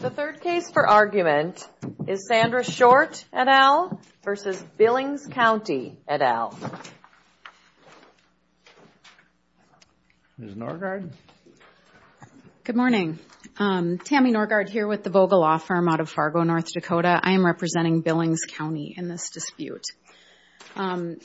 The third case for argument is Sandra Short et al. versus Billings County et al. Good morning. Tammy Norgaard here with the Vogel Law Firm out of Fargo, North Dakota. I am representing Billings County in this dispute. By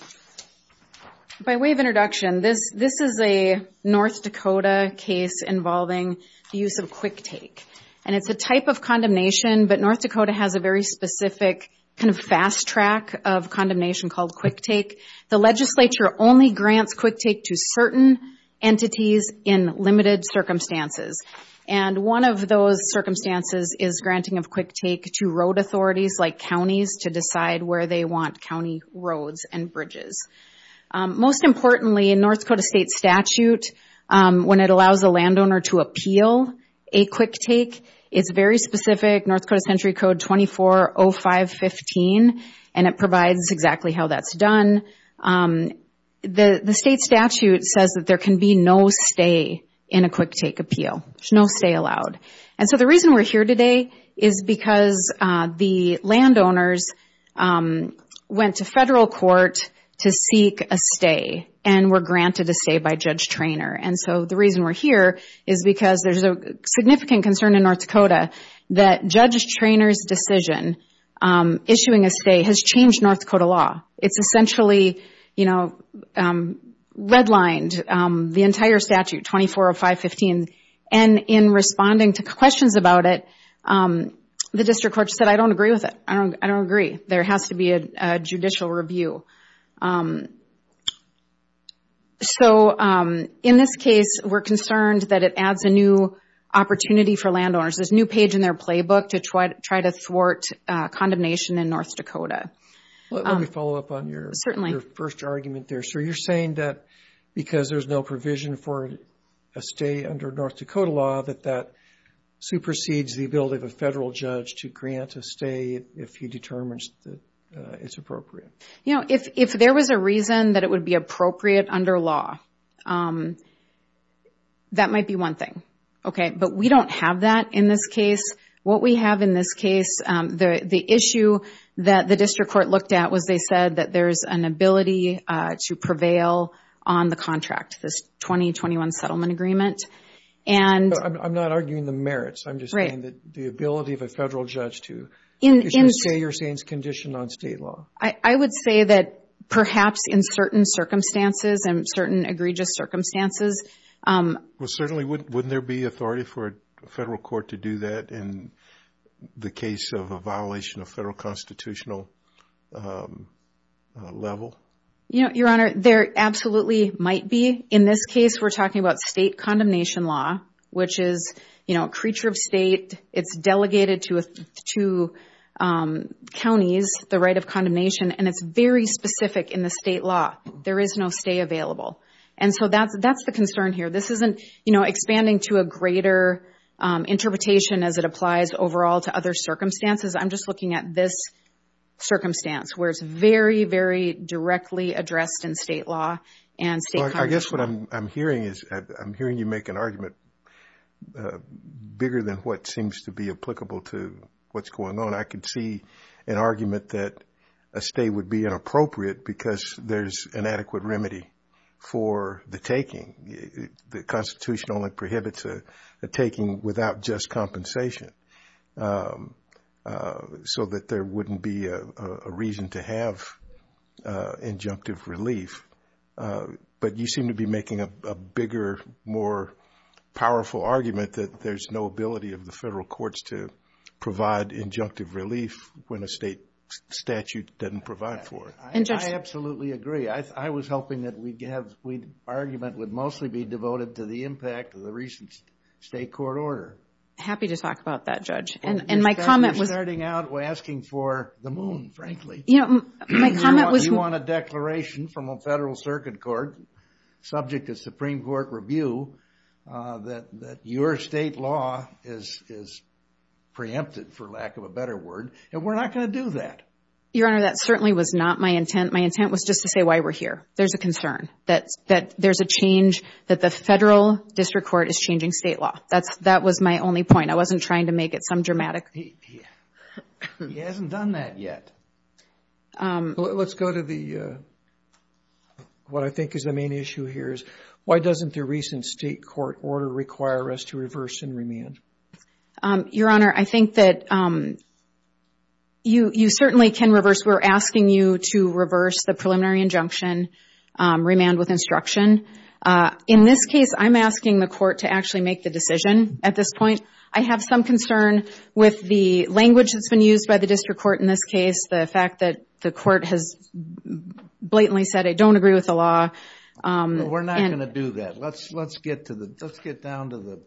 way of introduction, this is a North Dakota case involving the use of QuickTake. And it's a type of condemnation, but North Dakota has a very specific kind of fast track of condemnation called QuickTake. The legislature only grants QuickTake to certain entities in limited circumstances. And one of those circumstances is granting of QuickTake to road authorities like counties to decide where they want county roads and bridges. Most importantly, in North Dakota state statute, when it allows a landowner to appeal a QuickTake, it's very specific, North Dakota Century Code 24.05.15, and it provides exactly how that's done. The state statute says that there can be no stay in a QuickTake appeal. There's no stay allowed. And so the reason we're here today is because the landowners went to federal court to seek a stay and were granted a stay by Judge Traynor. And so the reason we're here is because there's a significant concern in North Dakota that Judge Traynor's decision issuing a stay has changed North Dakota law. It's essentially, you know, redlined the entire statute, 24.05.15. And in responding to questions about it, the district court said, I don't agree with it. I don't agree. There has to be a judicial review. So in this case, we're concerned that it adds a new opportunity for landowners. There's a new page in their playbook to try to thwart condemnation in North Dakota. Let me follow up on your first argument there. So you're saying that because there's no provision for a stay under North Dakota law, that that supersedes the ability of a federal judge to grant a stay if he determines that it's appropriate? You know, if there was a reason that it would be appropriate under law, that might be one thing. But we don't have that in this case. What we have in this case, the issue that the district court looked at was they said that there's an ability to prevail on the contract, this 2021 settlement agreement. And I'm not arguing the merits. I'm just saying that the ability of a federal judge to say you're saying is conditioned on state law. I would say that perhaps in certain circumstances and certain egregious circumstances. Certainly, wouldn't there be authority for a federal court to do that in the case of a violation of federal constitutional level? Your Honor, there absolutely might be. In this case, we're talking about state condemnation law, which is a creature of state. It's delegated to counties, the right of condemnation. And it's very specific in the state law. There is no stay available. And so that's the concern here. This isn't, you know, expanding to a greater interpretation as it applies overall to other circumstances. I'm just looking at this circumstance where it's very, very directly addressed in state law and state condemnation law. I guess what I'm hearing is I'm hearing you make an argument bigger than what seems to be applicable to what's going on. I can see an argument that a stay would be inappropriate because there's an adequate remedy for the taking. The Constitution only prohibits a taking without just compensation so that there wouldn't be a reason to have injunctive relief. But you seem to be making a bigger, more powerful argument that there's no ability of the federal courts to provide injunctive relief when a state statute doesn't provide for it. I absolutely agree. I was hoping that our argument would mostly be devoted to the impact of the recent state court order. Happy to talk about that, Judge. And my comment was – We're starting out, we're asking for the moon, frankly. You know, my comment was – subject to Supreme Court review, that your state law is preempted, for lack of a better word, and we're not going to do that. Your Honor, that certainly was not my intent. My intent was just to say why we're here. There's a concern that there's a change, that the federal district court is changing state law. That was my only point. I wasn't trying to make it some dramatic – He hasn't done that yet. Let's go to what I think is the main issue here. Why doesn't the recent state court order require us to reverse and remand? Your Honor, I think that you certainly can reverse. We're asking you to reverse the preliminary injunction, remand with instruction. In this case, I'm asking the court to actually make the decision at this point. I have some concern with the language that's been used by the district court in this case, the fact that the court has blatantly said, I don't agree with the law. We're not going to do that. Let's get down to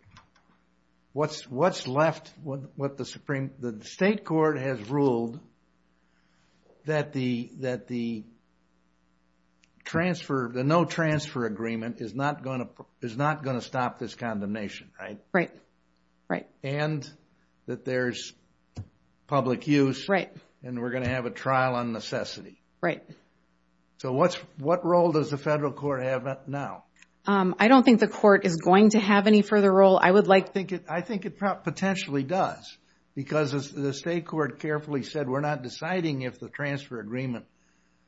what's left, what the Supreme – the state court has ruled that the transfer – the no transfer agreement is not going to stop this condemnation, right? Right, right. And that there's public use, and we're going to have a trial on necessity. Right. So what role does the federal court have now? I don't think the court is going to have any further role. I would like – I think it potentially does, because the state court carefully said, we're not deciding if the transfer agreement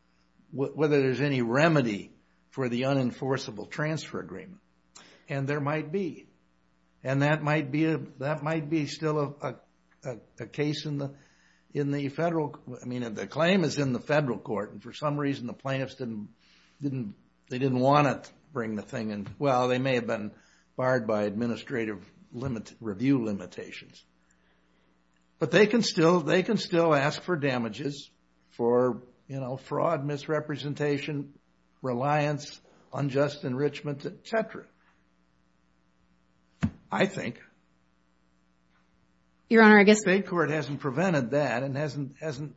– whether there's any remedy for the unenforceable transfer agreement. And there might be. And that might be still a case in the federal – I mean, the claim is in the federal court, and for some reason the plaintiffs didn't – they didn't want to bring the thing in. Well, they may have been barred by administrative review limitations. But they can still ask for damages for, you know, I think. Your Honor, I guess – The state court hasn't prevented that and hasn't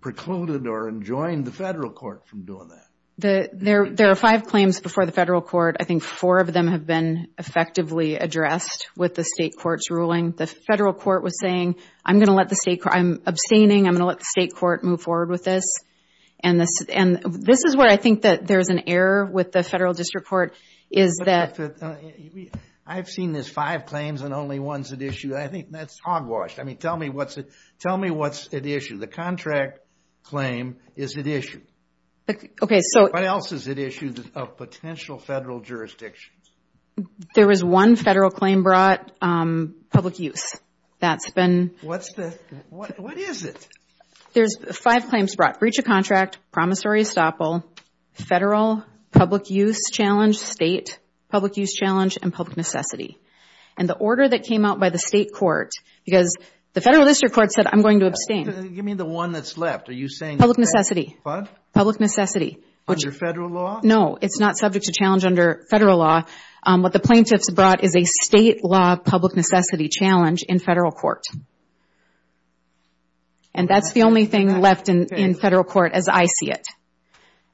precluded or enjoined the federal court from doing that. There are five claims before the federal court. I think four of them have been effectively addressed with the state court's ruling. The federal court was saying, I'm going to let the state – I'm abstaining, I'm going to let the state court move forward with this. And this is where I think that there's an error with the federal district court is that – I've seen there's five claims and only one's at issue. I think that's hogwash. I mean, tell me what's at issue. The contract claim is at issue. Okay, so – What else is at issue of potential federal jurisdictions? There was one federal claim brought, public use. That's been – What's the – what is it? There's five claims brought. Breach of contract, promissory estoppel, federal, public use challenge, state, public use challenge, and public necessity. And the order that came out by the state court, because the federal district court said, I'm going to abstain. Give me the one that's left. Are you saying – Public necessity. What? Public necessity. Under federal law? No, it's not subject to challenge under federal law. What the plaintiffs brought is a state law public necessity challenge in federal court. And that's the only thing left in federal court as I see it.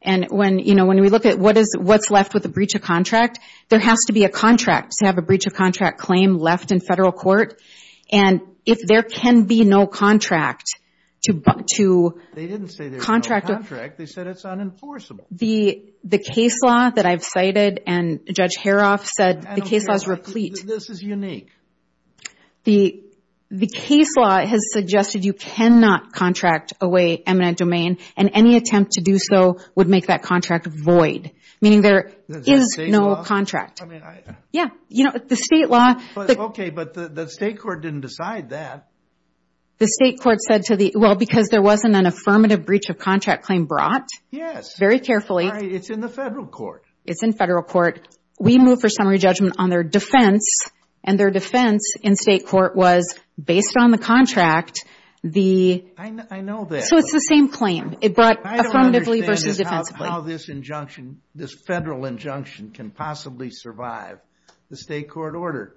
And when, you know, when we look at what is – what's left with a breach of contract, there has to be a contract to have a breach of contract claim left in federal court. And if there can be no contract to contract – They didn't say there was no contract. They said it's unenforceable. The case law that I've cited and Judge Haroff said the case law is replete. This is unique. The case law has suggested you cannot contract away eminent domain, and any attempt to do so would make that contract void, meaning there is no contract. I mean, I – Yeah. You know, the state law – Okay, but the state court didn't decide that. The state court said to the – well, because there wasn't an affirmative breach of contract claim brought. Yes. Very carefully. It's in the federal court. It's in federal court. We moved for summary judgment on their defense, and their defense in state court was, based on the contract, the – I know that. So it's the same claim. It brought affirmatively versus defensively. I don't understand how this injunction, this federal injunction, can possibly survive the state court order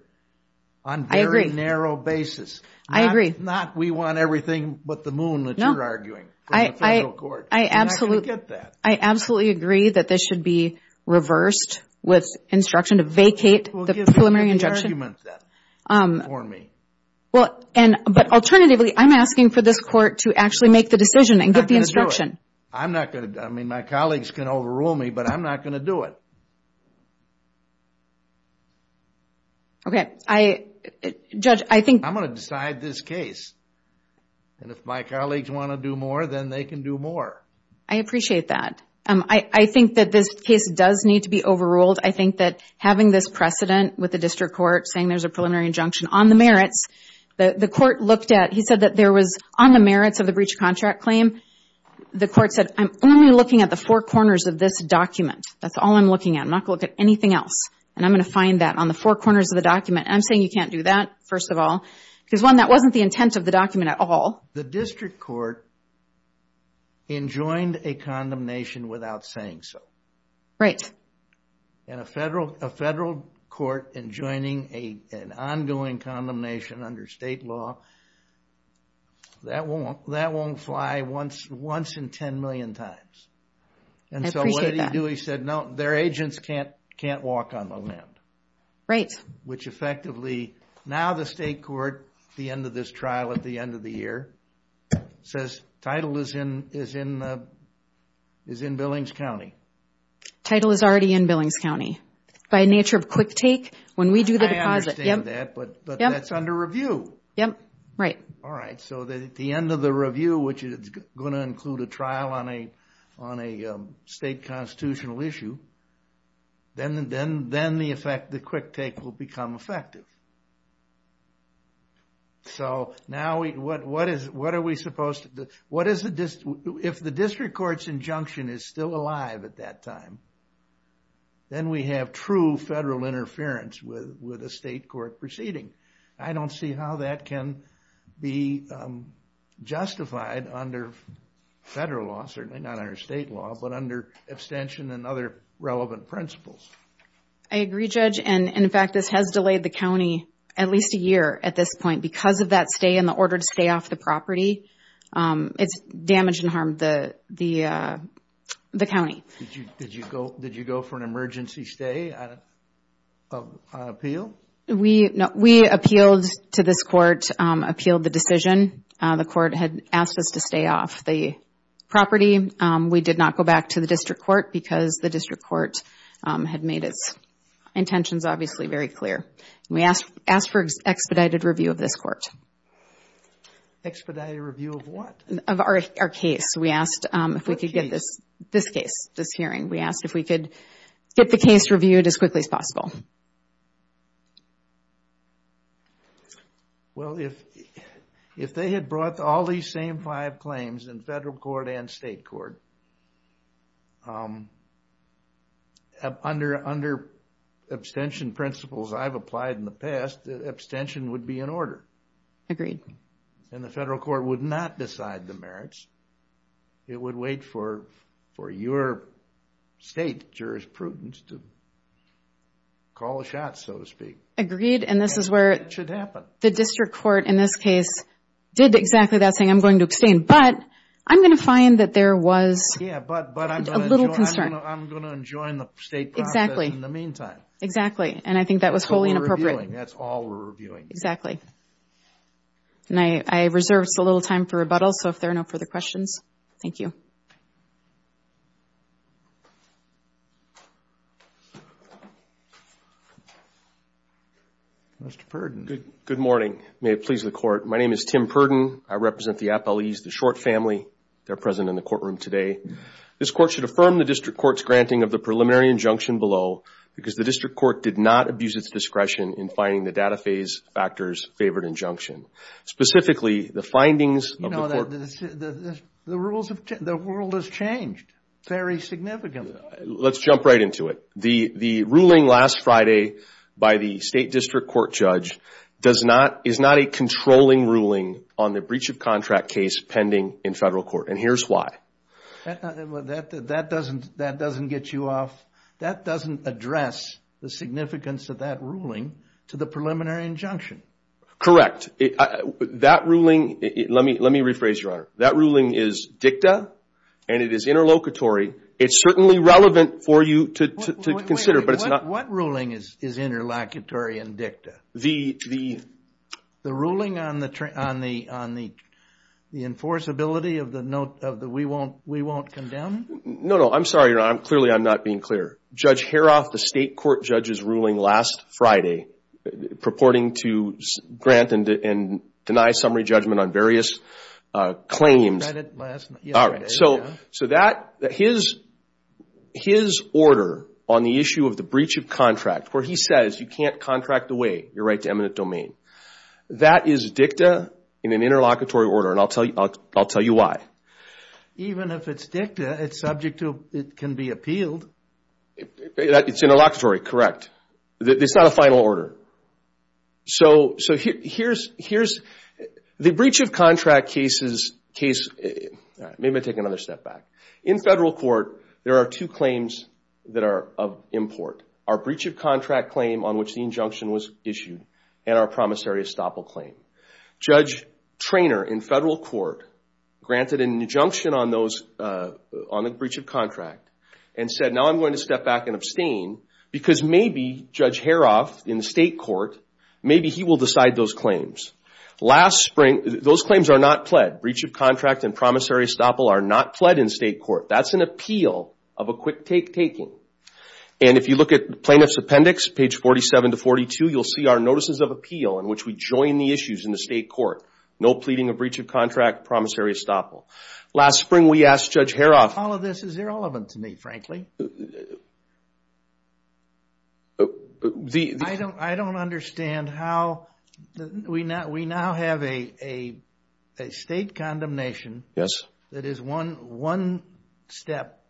on very narrow basis. I agree. Not we want everything but the moon that you're arguing from the federal court. I absolutely – You're not going to get that. I absolutely agree that this should be reversed with instruction to vacate the preliminary injunction. Well, give me the argument then for me. Well, and – but alternatively, I'm asking for this court to actually make the decision and get the instruction. I'm not going to – I mean, my colleagues can overrule me, but I'm not going to do it. Okay. Judge, I think – I'm going to decide this case. And if my colleagues want to do more, then they can do more. I appreciate that. I think that this case does need to be overruled. I think that having this precedent with the district court saying there's a preliminary injunction on the merits, the court looked at – he said that there was on the merits of the breach of contract claim, the court said, I'm only looking at the four corners of this document. That's all I'm looking at. I'm not going to look at anything else. And I'm going to find that on the four corners of the document. And I'm saying you can't do that, first of all, because, one, that wasn't the intent of the document at all. The district court enjoined a condemnation without saying so. And a federal court enjoining an ongoing condemnation under state law, that won't fly once in 10 million times. I appreciate that. And so what did he do? He said, no, their agents can't walk on the land. Right. Which effectively, now the state court, at the end of this trial, at the end of the year, says title is in Billings County. Title is already in Billings County. By nature of quick take, when we do the deposit – I understand that, but that's under review. Yep, right. All right. So at the end of the review, which is going to include a trial on a state constitutional issue, then the effect, the quick take will become effective. So now what are we supposed to do? If the district court's injunction is still alive at that time, then we have true federal interference with a state court proceeding. I don't see how that can be justified under federal law, certainly not under state law, but under abstention and other relevant principles. I agree, Judge. And in fact, this has delayed the county at least a year at this point. Because of that stay and the order to stay off the property, it's damaged and harmed the county. Did you go for an emergency stay on appeal? We appealed to this court, appealed the decision. The court had asked us to stay off the property. We did not go back to the district court, because the district court had made its intentions obviously very clear. We asked for expedited review of this court. Expedited review of what? Of our case. We asked if we could get this case, this hearing. We asked if we could get the case reviewed as quickly as possible. Well, if they had brought all these same five claims in federal court and state court, under abstention principles I've applied in the past, the abstention would be in order. And the federal court would not decide the merits. It would wait for your state jurisprudence to decide. Call the shots, so to speak. Agreed. And this is where the district court in this case did exactly that, saying I'm going to abstain. But I'm going to find that there was a little concern. I'm going to enjoin the state process in the meantime. Exactly. And I think that was wholly inappropriate. That's what we're reviewing. That's all we're reviewing. I reserve a little time for rebuttal, so if there are no further questions. Thank you. Mr. Purdon. Good morning. May it please the court. My name is Tim Purdon. I represent the Appellees, the Short family. They're present in the courtroom today. This court should affirm the district court's granting of the preliminary injunction below because the district court did not abuse its discretion in finding the data phase factors favored injunction, specifically the findings of the court. You know, the world has changed very significantly. Let's jump right into it. The ruling last Friday by the state district court judge is not a controlling ruling on the breach of contract case pending in federal court, and here's why. That doesn't get you off. That doesn't address the significance of that ruling to the preliminary injunction. Correct. That ruling, let me rephrase, Your Honor. That ruling is dicta, and it is interlocutory. It's certainly relevant for you to consider, but it's not. What ruling is interlocutory and dicta? The ruling on the enforceability of the we won't condemn? No, no. I'm sorry, Your Honor. Clearly, I'm not being clear. Judge Haroff, the state court judge's ruling last Friday, purporting to grant and deny summary judgment on various claims. I read it yesterday. All right, so his order on the issue of the breach of contract, where he says you can't contract away your right to eminent domain, that is dicta in an interlocutory order, and I'll tell you why. Even if it's dicta, it can be appealed. It's interlocutory, correct. It's not a final order. So here's the breach of contract case. Maybe I'll take another step back. In federal court, there are two claims that are of import, our breach of contract claim on which the injunction was issued and our promissory estoppel claim. Judge Treanor in federal court granted an injunction on the breach of contract and said, now I'm going to step back and abstain because maybe Judge Haroff in the state court, maybe he will decide those claims. Last spring, those claims are not pled. Breach of contract and promissory estoppel are not pled in state court. That's an appeal of a quick take taking. And if you look at plaintiff's appendix, page 47 to 42, you'll see our notices of appeal in which we join the issues in the state court. No pleading of breach of contract, promissory estoppel. Last spring, we asked Judge Haroff. All of this is irrelevant to me, frankly. I don't understand how we now have a state condemnation that is one step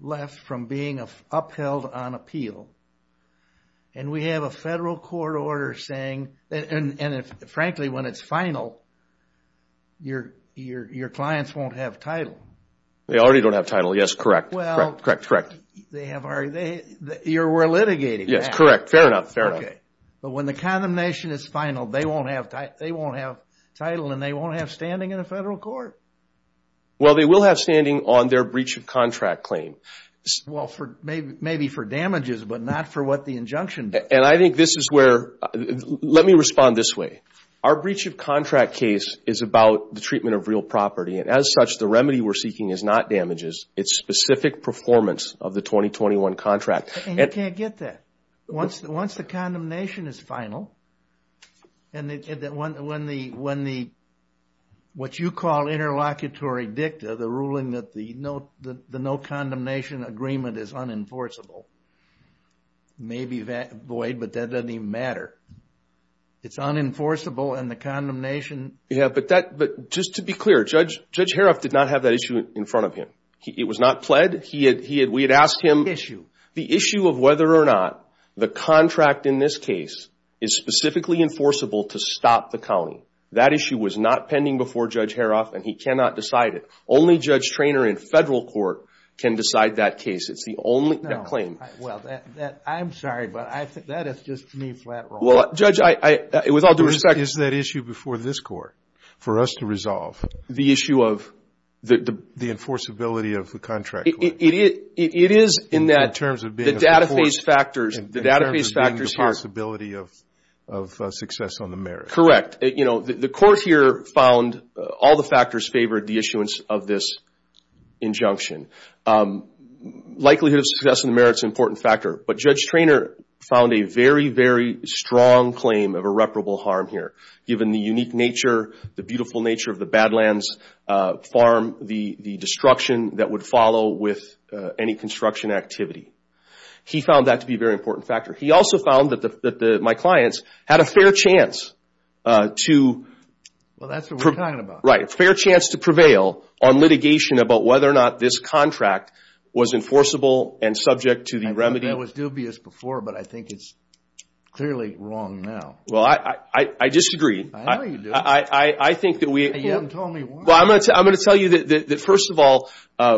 left from being upheld on appeal, and we have a federal court order saying, and frankly, when it's final, your clients won't have title. They already don't have title. Yes, correct, correct, correct. Well, you're litigating that. Yes, correct. Fair enough, fair enough. Okay. But when the condemnation is final, they won't have title and they won't have standing in a federal court? Well, they will have standing on their breach of contract claim. Well, maybe for damages, but not for what the injunction does. And I think this is where – let me respond this way. Our breach of contract case is about the treatment of real property, and as such, the remedy we're seeking is not damages. It's specific performance of the 2021 contract. And you can't get that. Once the condemnation is final and when the – what you call interlocutory dicta, the ruling that the no condemnation agreement is unenforceable, may be void, but that doesn't even matter. It's unenforceable and the condemnation – Yeah, but just to be clear, Judge Haroff did not have that issue in front of him. It was not pled. We had asked him the issue of whether or not the contract in this case is specifically enforceable to stop the county. That issue was not pending before Judge Haroff, and he cannot decide it. Only Judge Treanor in federal court can decide that case. It's the only claim. Well, I'm sorry, but that is just me flat rolling. Well, Judge, with all due respect – For us to resolve – The issue of – The enforceability of the contract. It is in that – In terms of being – The data phase factors – In terms of being the possibility of success on the merits. Correct. You know, the court here found all the factors favored the issuance of this injunction. Likelihood of success on the merits is an important factor, but Judge Treanor found a very, very strong claim of irreparable harm here, given the unique nature, the beautiful nature of the Badlands farm, the destruction that would follow with any construction activity. He found that to be a very important factor. He also found that my clients had a fair chance to – Well, that's what we're talking about. Right. A fair chance to prevail on litigation about whether or not this contract was enforceable and subject to the remedy – That was dubious before, but I think it's clearly wrong now. Well, I disagree. I know you do. I think that we – You haven't told me why. Well, I'm going to tell you that, first of all,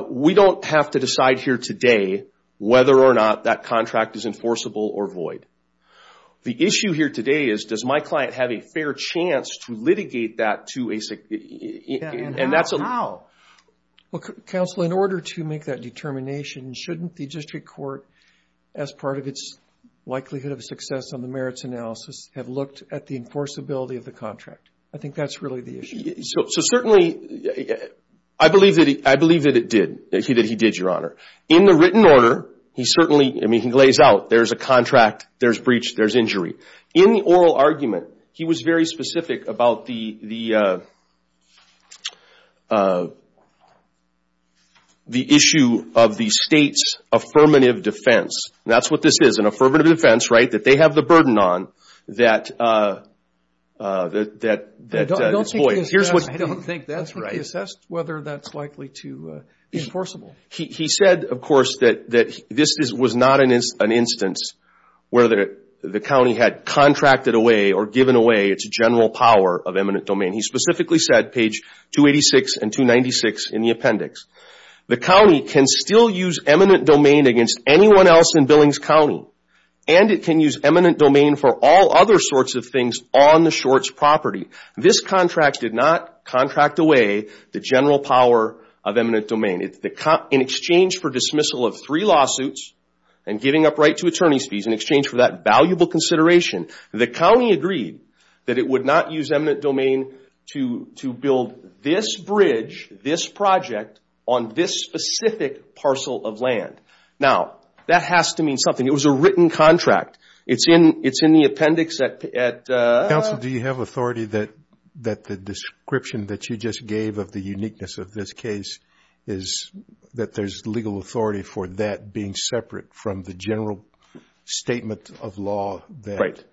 we don't have to decide here today whether or not that contract is enforceable or void. The issue here today is does my client have a fair chance to litigate that to a – And how? Counsel, in order to make that determination, shouldn't the district court, as part of its likelihood of success on the merits analysis, have looked at the enforceability of the contract? I think that's really the issue. So, certainly, I believe that it did, that he did, Your Honor. In the written order, he certainly – I mean, he lays out there's a contract, there's breach, there's injury. In the oral argument, he was very specific about the issue of the state's affirmative defense. That's what this is, an affirmative defense, right, that they have the burden on that – I don't think that's right. I don't think he assessed whether that's likely to be enforceable. He said, of course, that this was not an instance where the county had contracted away or given away its general power of eminent domain. He specifically said, page 286 and 296 in the appendix, the county can still use eminent domain against anyone else in Billings County, and it can use eminent domain for all other sorts of things on the short's property. This contract did not contract away the general power of eminent domain. In exchange for dismissal of three lawsuits and giving up right to attorney's fees, in exchange for that valuable consideration, the county agreed that it would not use eminent domain to build this bridge, this project on this specific parcel of land. Now, that has to mean something. It was a written contract. It's in the appendix at – Counsel, do you have authority that the description that you just gave of the uniqueness of this case is that there's legal authority for that being separate from the general statement of law that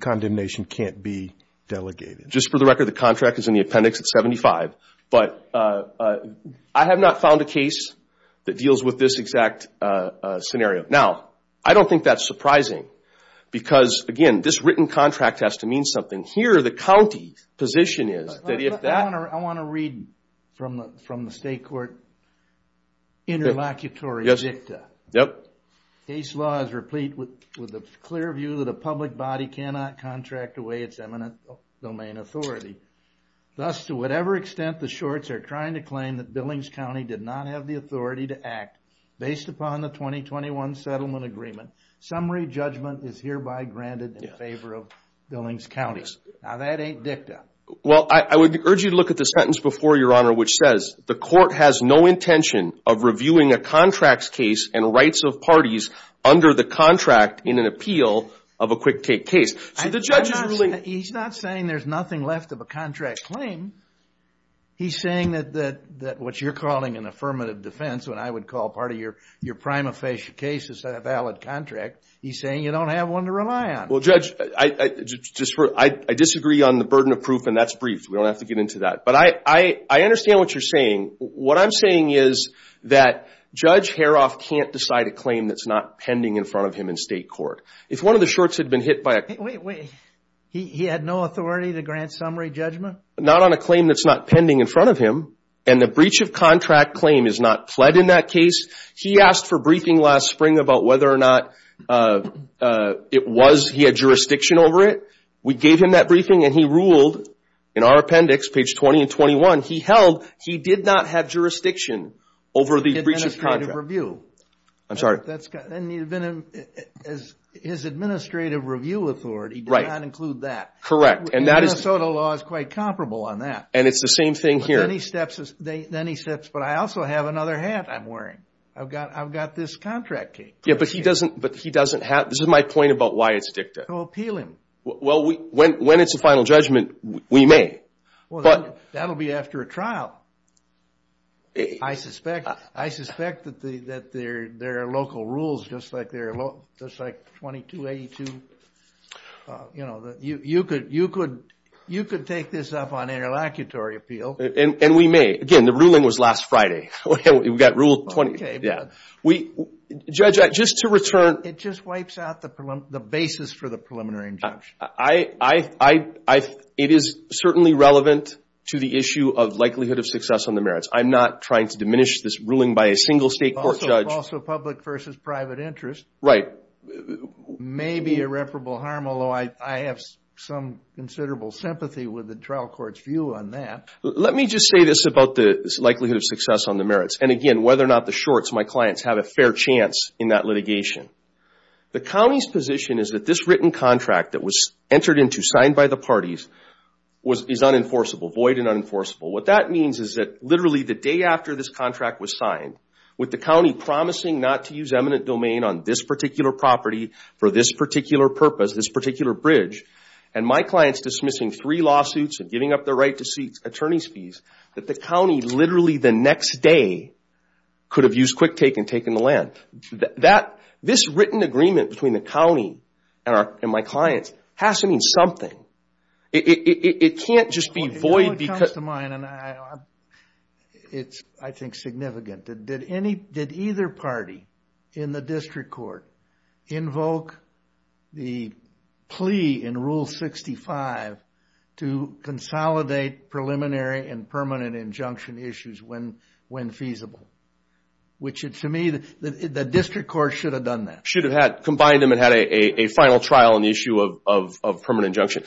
condemnation can't be delegated? Just for the record, the contract is in the appendix at 75. But I have not found a case that deals with this exact scenario. Now, I don't think that's surprising because, again, this written contract has to mean something. Here, the county's position is that if that – I want to read from the state court interlocutory dicta. Yep. Case law is replete with a clear view that a public body cannot contract away its eminent domain authority. Thus, to whatever extent the shorts are trying to claim that Billings County did not have the authority to act based upon the 2021 settlement agreement, summary judgment is hereby granted in favor of Billings County. Now, that ain't dicta. Well, I would urge you to look at the sentence before you, Your Honor, which says, the court has no intention of reviewing a contracts case and rights of parties under the contract in an appeal of a quick take case. So the judge is really – He's not saying there's nothing left of a contract claim. He's saying that what you're calling an affirmative defense, what I would call part of your prima facie case is a valid contract. He's saying you don't have one to rely on. Well, Judge, I disagree on the burden of proof, and that's brief. We don't have to get into that. But I understand what you're saying. What I'm saying is that Judge Haroff can't decide a claim that's not pending in front of him in state court. If one of the shorts had been hit by a – Wait, wait. He had no authority to grant summary judgment? Not on a claim that's not pending in front of him, and the breach of contract claim is not pled in that case. He asked for briefing last spring about whether or not it was he had jurisdiction over it. We gave him that briefing, and he ruled in our appendix, page 20 and 21, he held he did not have jurisdiction over the breach of contract. I'm sorry? That's got – his administrative review authority did not include that. Correct. Minnesota law is quite comparable on that. And it's the same thing here. Then he steps – but I also have another hat I'm wearing. I've got this contract cape. Yeah, but he doesn't have – this is my point about why it's dicta. To appeal him. Well, when it's a final judgment, we may. Well, that'll be after a trial. I suspect that there are local rules, just like 2282. You know, you could take this up on interlocutory appeal. And we may. Again, the ruling was last Friday. We got rule 20. Judge, just to return – It just wipes out the basis for the preliminary injunction. It is certainly relevant to the issue of likelihood of success on the merits. I'm not trying to diminish this ruling by a single state court judge. Also public versus private interest. Right. It may be irreparable harm, although I have some considerable sympathy with the trial court's view on that. Let me just say this about the likelihood of success on the merits, and, again, whether or not the shorts, my clients, have a fair chance in that litigation. The county's position is that this written contract that was entered into, signed by the parties, is unenforceable, void and unenforceable. What that means is that literally the day after this contract was signed, with the county promising not to use eminent domain on this particular property for this particular purpose, this particular bridge, and my clients dismissing three lawsuits and giving up their right to seek attorney's fees, that the county literally the next day could have used quick take and taken the land. This written agreement between the county and my clients has to mean something. It can't just be void because – It's, I think, significant. Did either party in the district court invoke the plea in Rule 65 to consolidate preliminary and permanent injunction issues when feasible? Which, to me, the district court should have done that. Should have combined them and had a final trial on the issue of permanent injunction.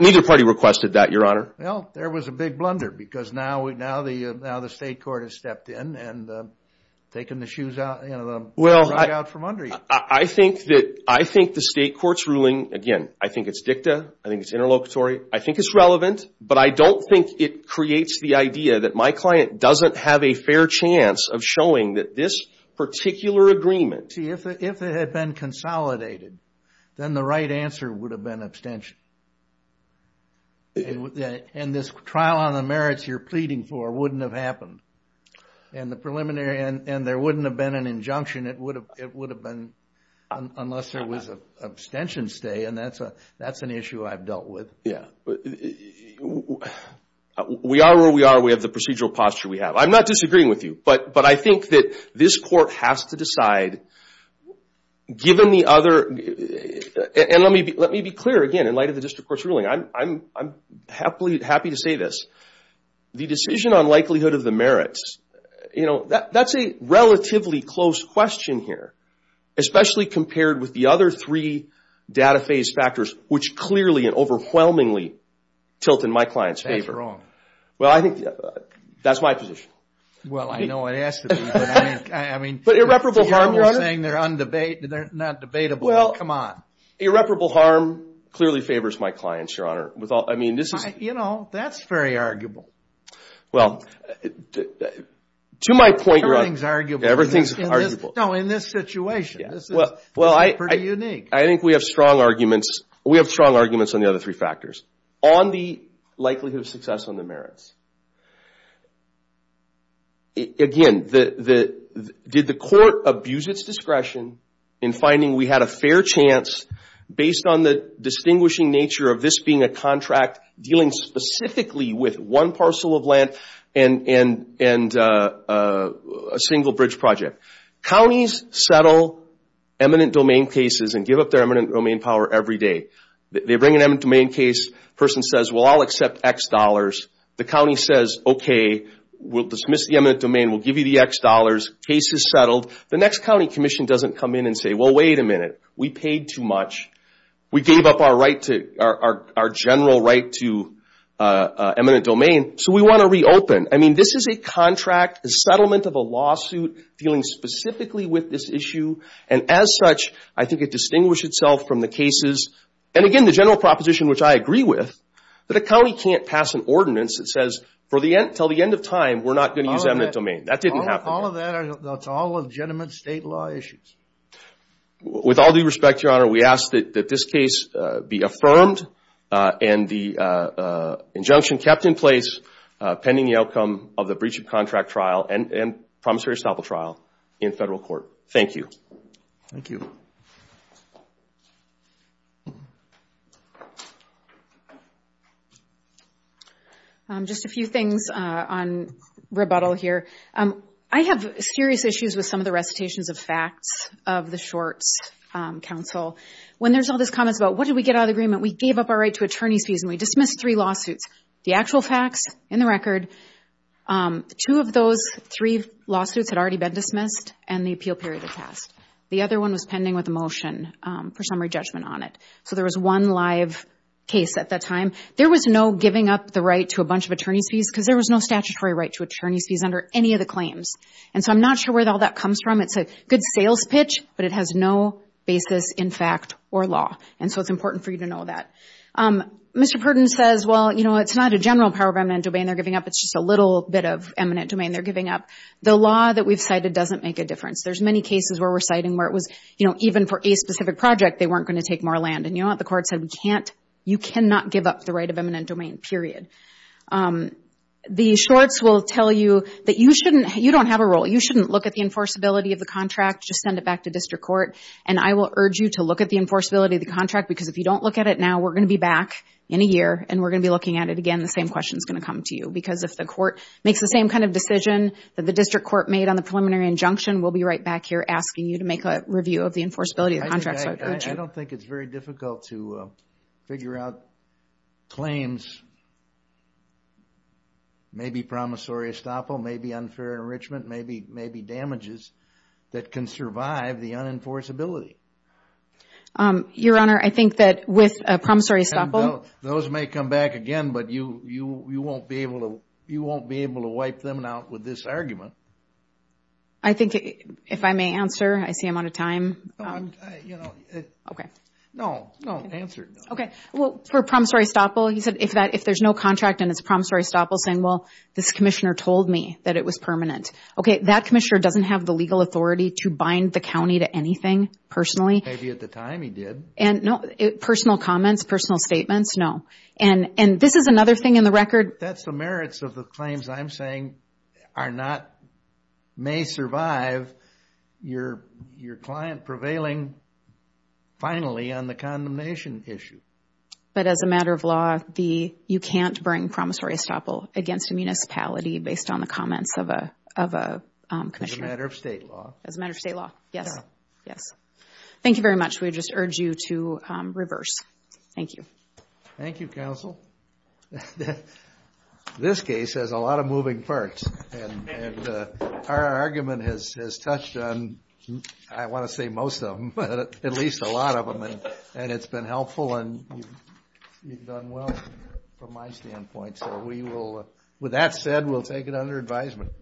Neither party requested that, Your Honor. Well, there was a big blunder because now the state court has stepped in and taken the rug out from under you. I think the state court's ruling, again, I think it's dicta, I think it's interlocutory, I think it's relevant, but I don't think it creates the idea that my client doesn't have a fair chance of showing that this particular agreement – See, if it had been consolidated, then the right answer would have been abstention. And this trial on the merits you're pleading for wouldn't have happened. And the preliminary – and there wouldn't have been an injunction. It would have been unless there was an abstention stay, and that's an issue I've dealt with. Yeah. We are where we are. We have the procedural posture we have. I'm not disagreeing with you, but I think that this court has to decide, given the other – and let me be clear, again, in light of the district court's ruling. I'm happy to say this. The decision on likelihood of the merits, that's a relatively close question here, especially compared with the other three data phase factors, which clearly and overwhelmingly tilt in my client's favor. That's wrong. Well, I think that's my position. Well, I know it has to be, but I mean – But irreparable harm, Your Honor. You're saying they're undebatable. They're not debatable. Come on. Irreparable harm clearly favors my clients, Your Honor. I mean, this is – You know, that's very arguable. Well, to my point, Your Honor – Everything's arguable. Everything's arguable. No, in this situation. This is pretty unique. I think we have strong arguments. We have strong arguments on the other three factors. On the likelihood of success on the merits, again, did the court abuse its discretion in finding we had a fair chance based on the distinguishing nature of this being a contract dealing specifically with one parcel of land and a single bridge project? Counties settle eminent domain cases and give up their eminent domain power every day. They bring an eminent domain case. The person says, well, I'll accept X dollars. The county says, okay, we'll dismiss the eminent domain. We'll give you the X dollars. Case is settled. The next county commission doesn't come in and say, well, wait a minute. We paid too much. We gave up our right to – our general right to eminent domain, so we want to reopen. I mean, this is a contract, a settlement of a lawsuit dealing specifically with this issue, and as such, I think it distinguished itself from the cases. And, again, the general proposition, which I agree with, that a county can't pass an ordinance that says, until the end of time, we're not going to use eminent domain. That didn't happen. All of that, that's all legitimate state law issues. With all due respect, Your Honor, we ask that this case be affirmed and the injunction kept in place pending the outcome of the breach of contract trial and promissory estoppel trial in federal court. Thank you. Thank you. Thank you. Just a few things on rebuttal here. I have serious issues with some of the recitations of facts of the Shorts Council. When there's all these comments about what did we get out of the agreement, we gave up our right to attorney's fees and we dismissed three lawsuits. The actual facts in the record, two of those three lawsuits had already been dismissed and the appeal period had passed. The other one was pending with a motion for summary judgment on it. So there was one live case at that time. There was no giving up the right to a bunch of attorney's fees because there was no statutory right to attorney's fees under any of the claims. And so I'm not sure where all that comes from. It's a good sales pitch, but it has no basis in fact or law. And so it's important for you to know that. Mr. Purdon says, well, you know, it's not a general power of eminent domain. They're giving up. It's just a little bit of eminent domain. They're giving up. The law that we've cited doesn't make a difference. There's many cases where we're citing where it was, you know, even for a specific project they weren't going to take more land. And you know what the court said? You cannot give up the right of eminent domain, period. The shorts will tell you that you don't have a role. You shouldn't look at the enforceability of the contract. Just send it back to district court. And I will urge you to look at the enforceability of the contract because if you don't look at it now, we're going to be back in a year and we're going to be looking at it again. The same question is going to come to you because if the court makes the same kind of decision that the district court made on the preliminary injunction, we'll be right back here asking you to make a review of the enforceability of the contract. I don't think it's very difficult to figure out claims, maybe promissory estoppel, maybe unfair enrichment, maybe damages that can survive the unenforceability. Your Honor, I think that with promissory estoppel. Those may come back again, but you won't be able to wipe them out with this argument. I think if I may answer, I see I'm out of time. No, answer. For promissory estoppel, he said if there's no contract and it's promissory estoppel saying, well, this commissioner told me that it was permanent. That commissioner doesn't have the legal authority to bind the county to anything personally. Maybe at the time he did. Personal comments, personal statements, no. This is another thing in the record. That's the merits of the claims I'm saying may survive your client prevailing finally on the condemnation issue. But as a matter of law, you can't bring promissory estoppel against a municipality based on the comments of a commissioner. As a matter of state law. As a matter of state law, yes. Thank you very much. We just urge you to reverse. Thank you. Thank you, counsel. This case has a lot of moving parts. And our argument has touched on, I want to say most of them, but at least a lot of them. And it's been helpful and you've done well from my standpoint. So with that said, we'll take it under advisement.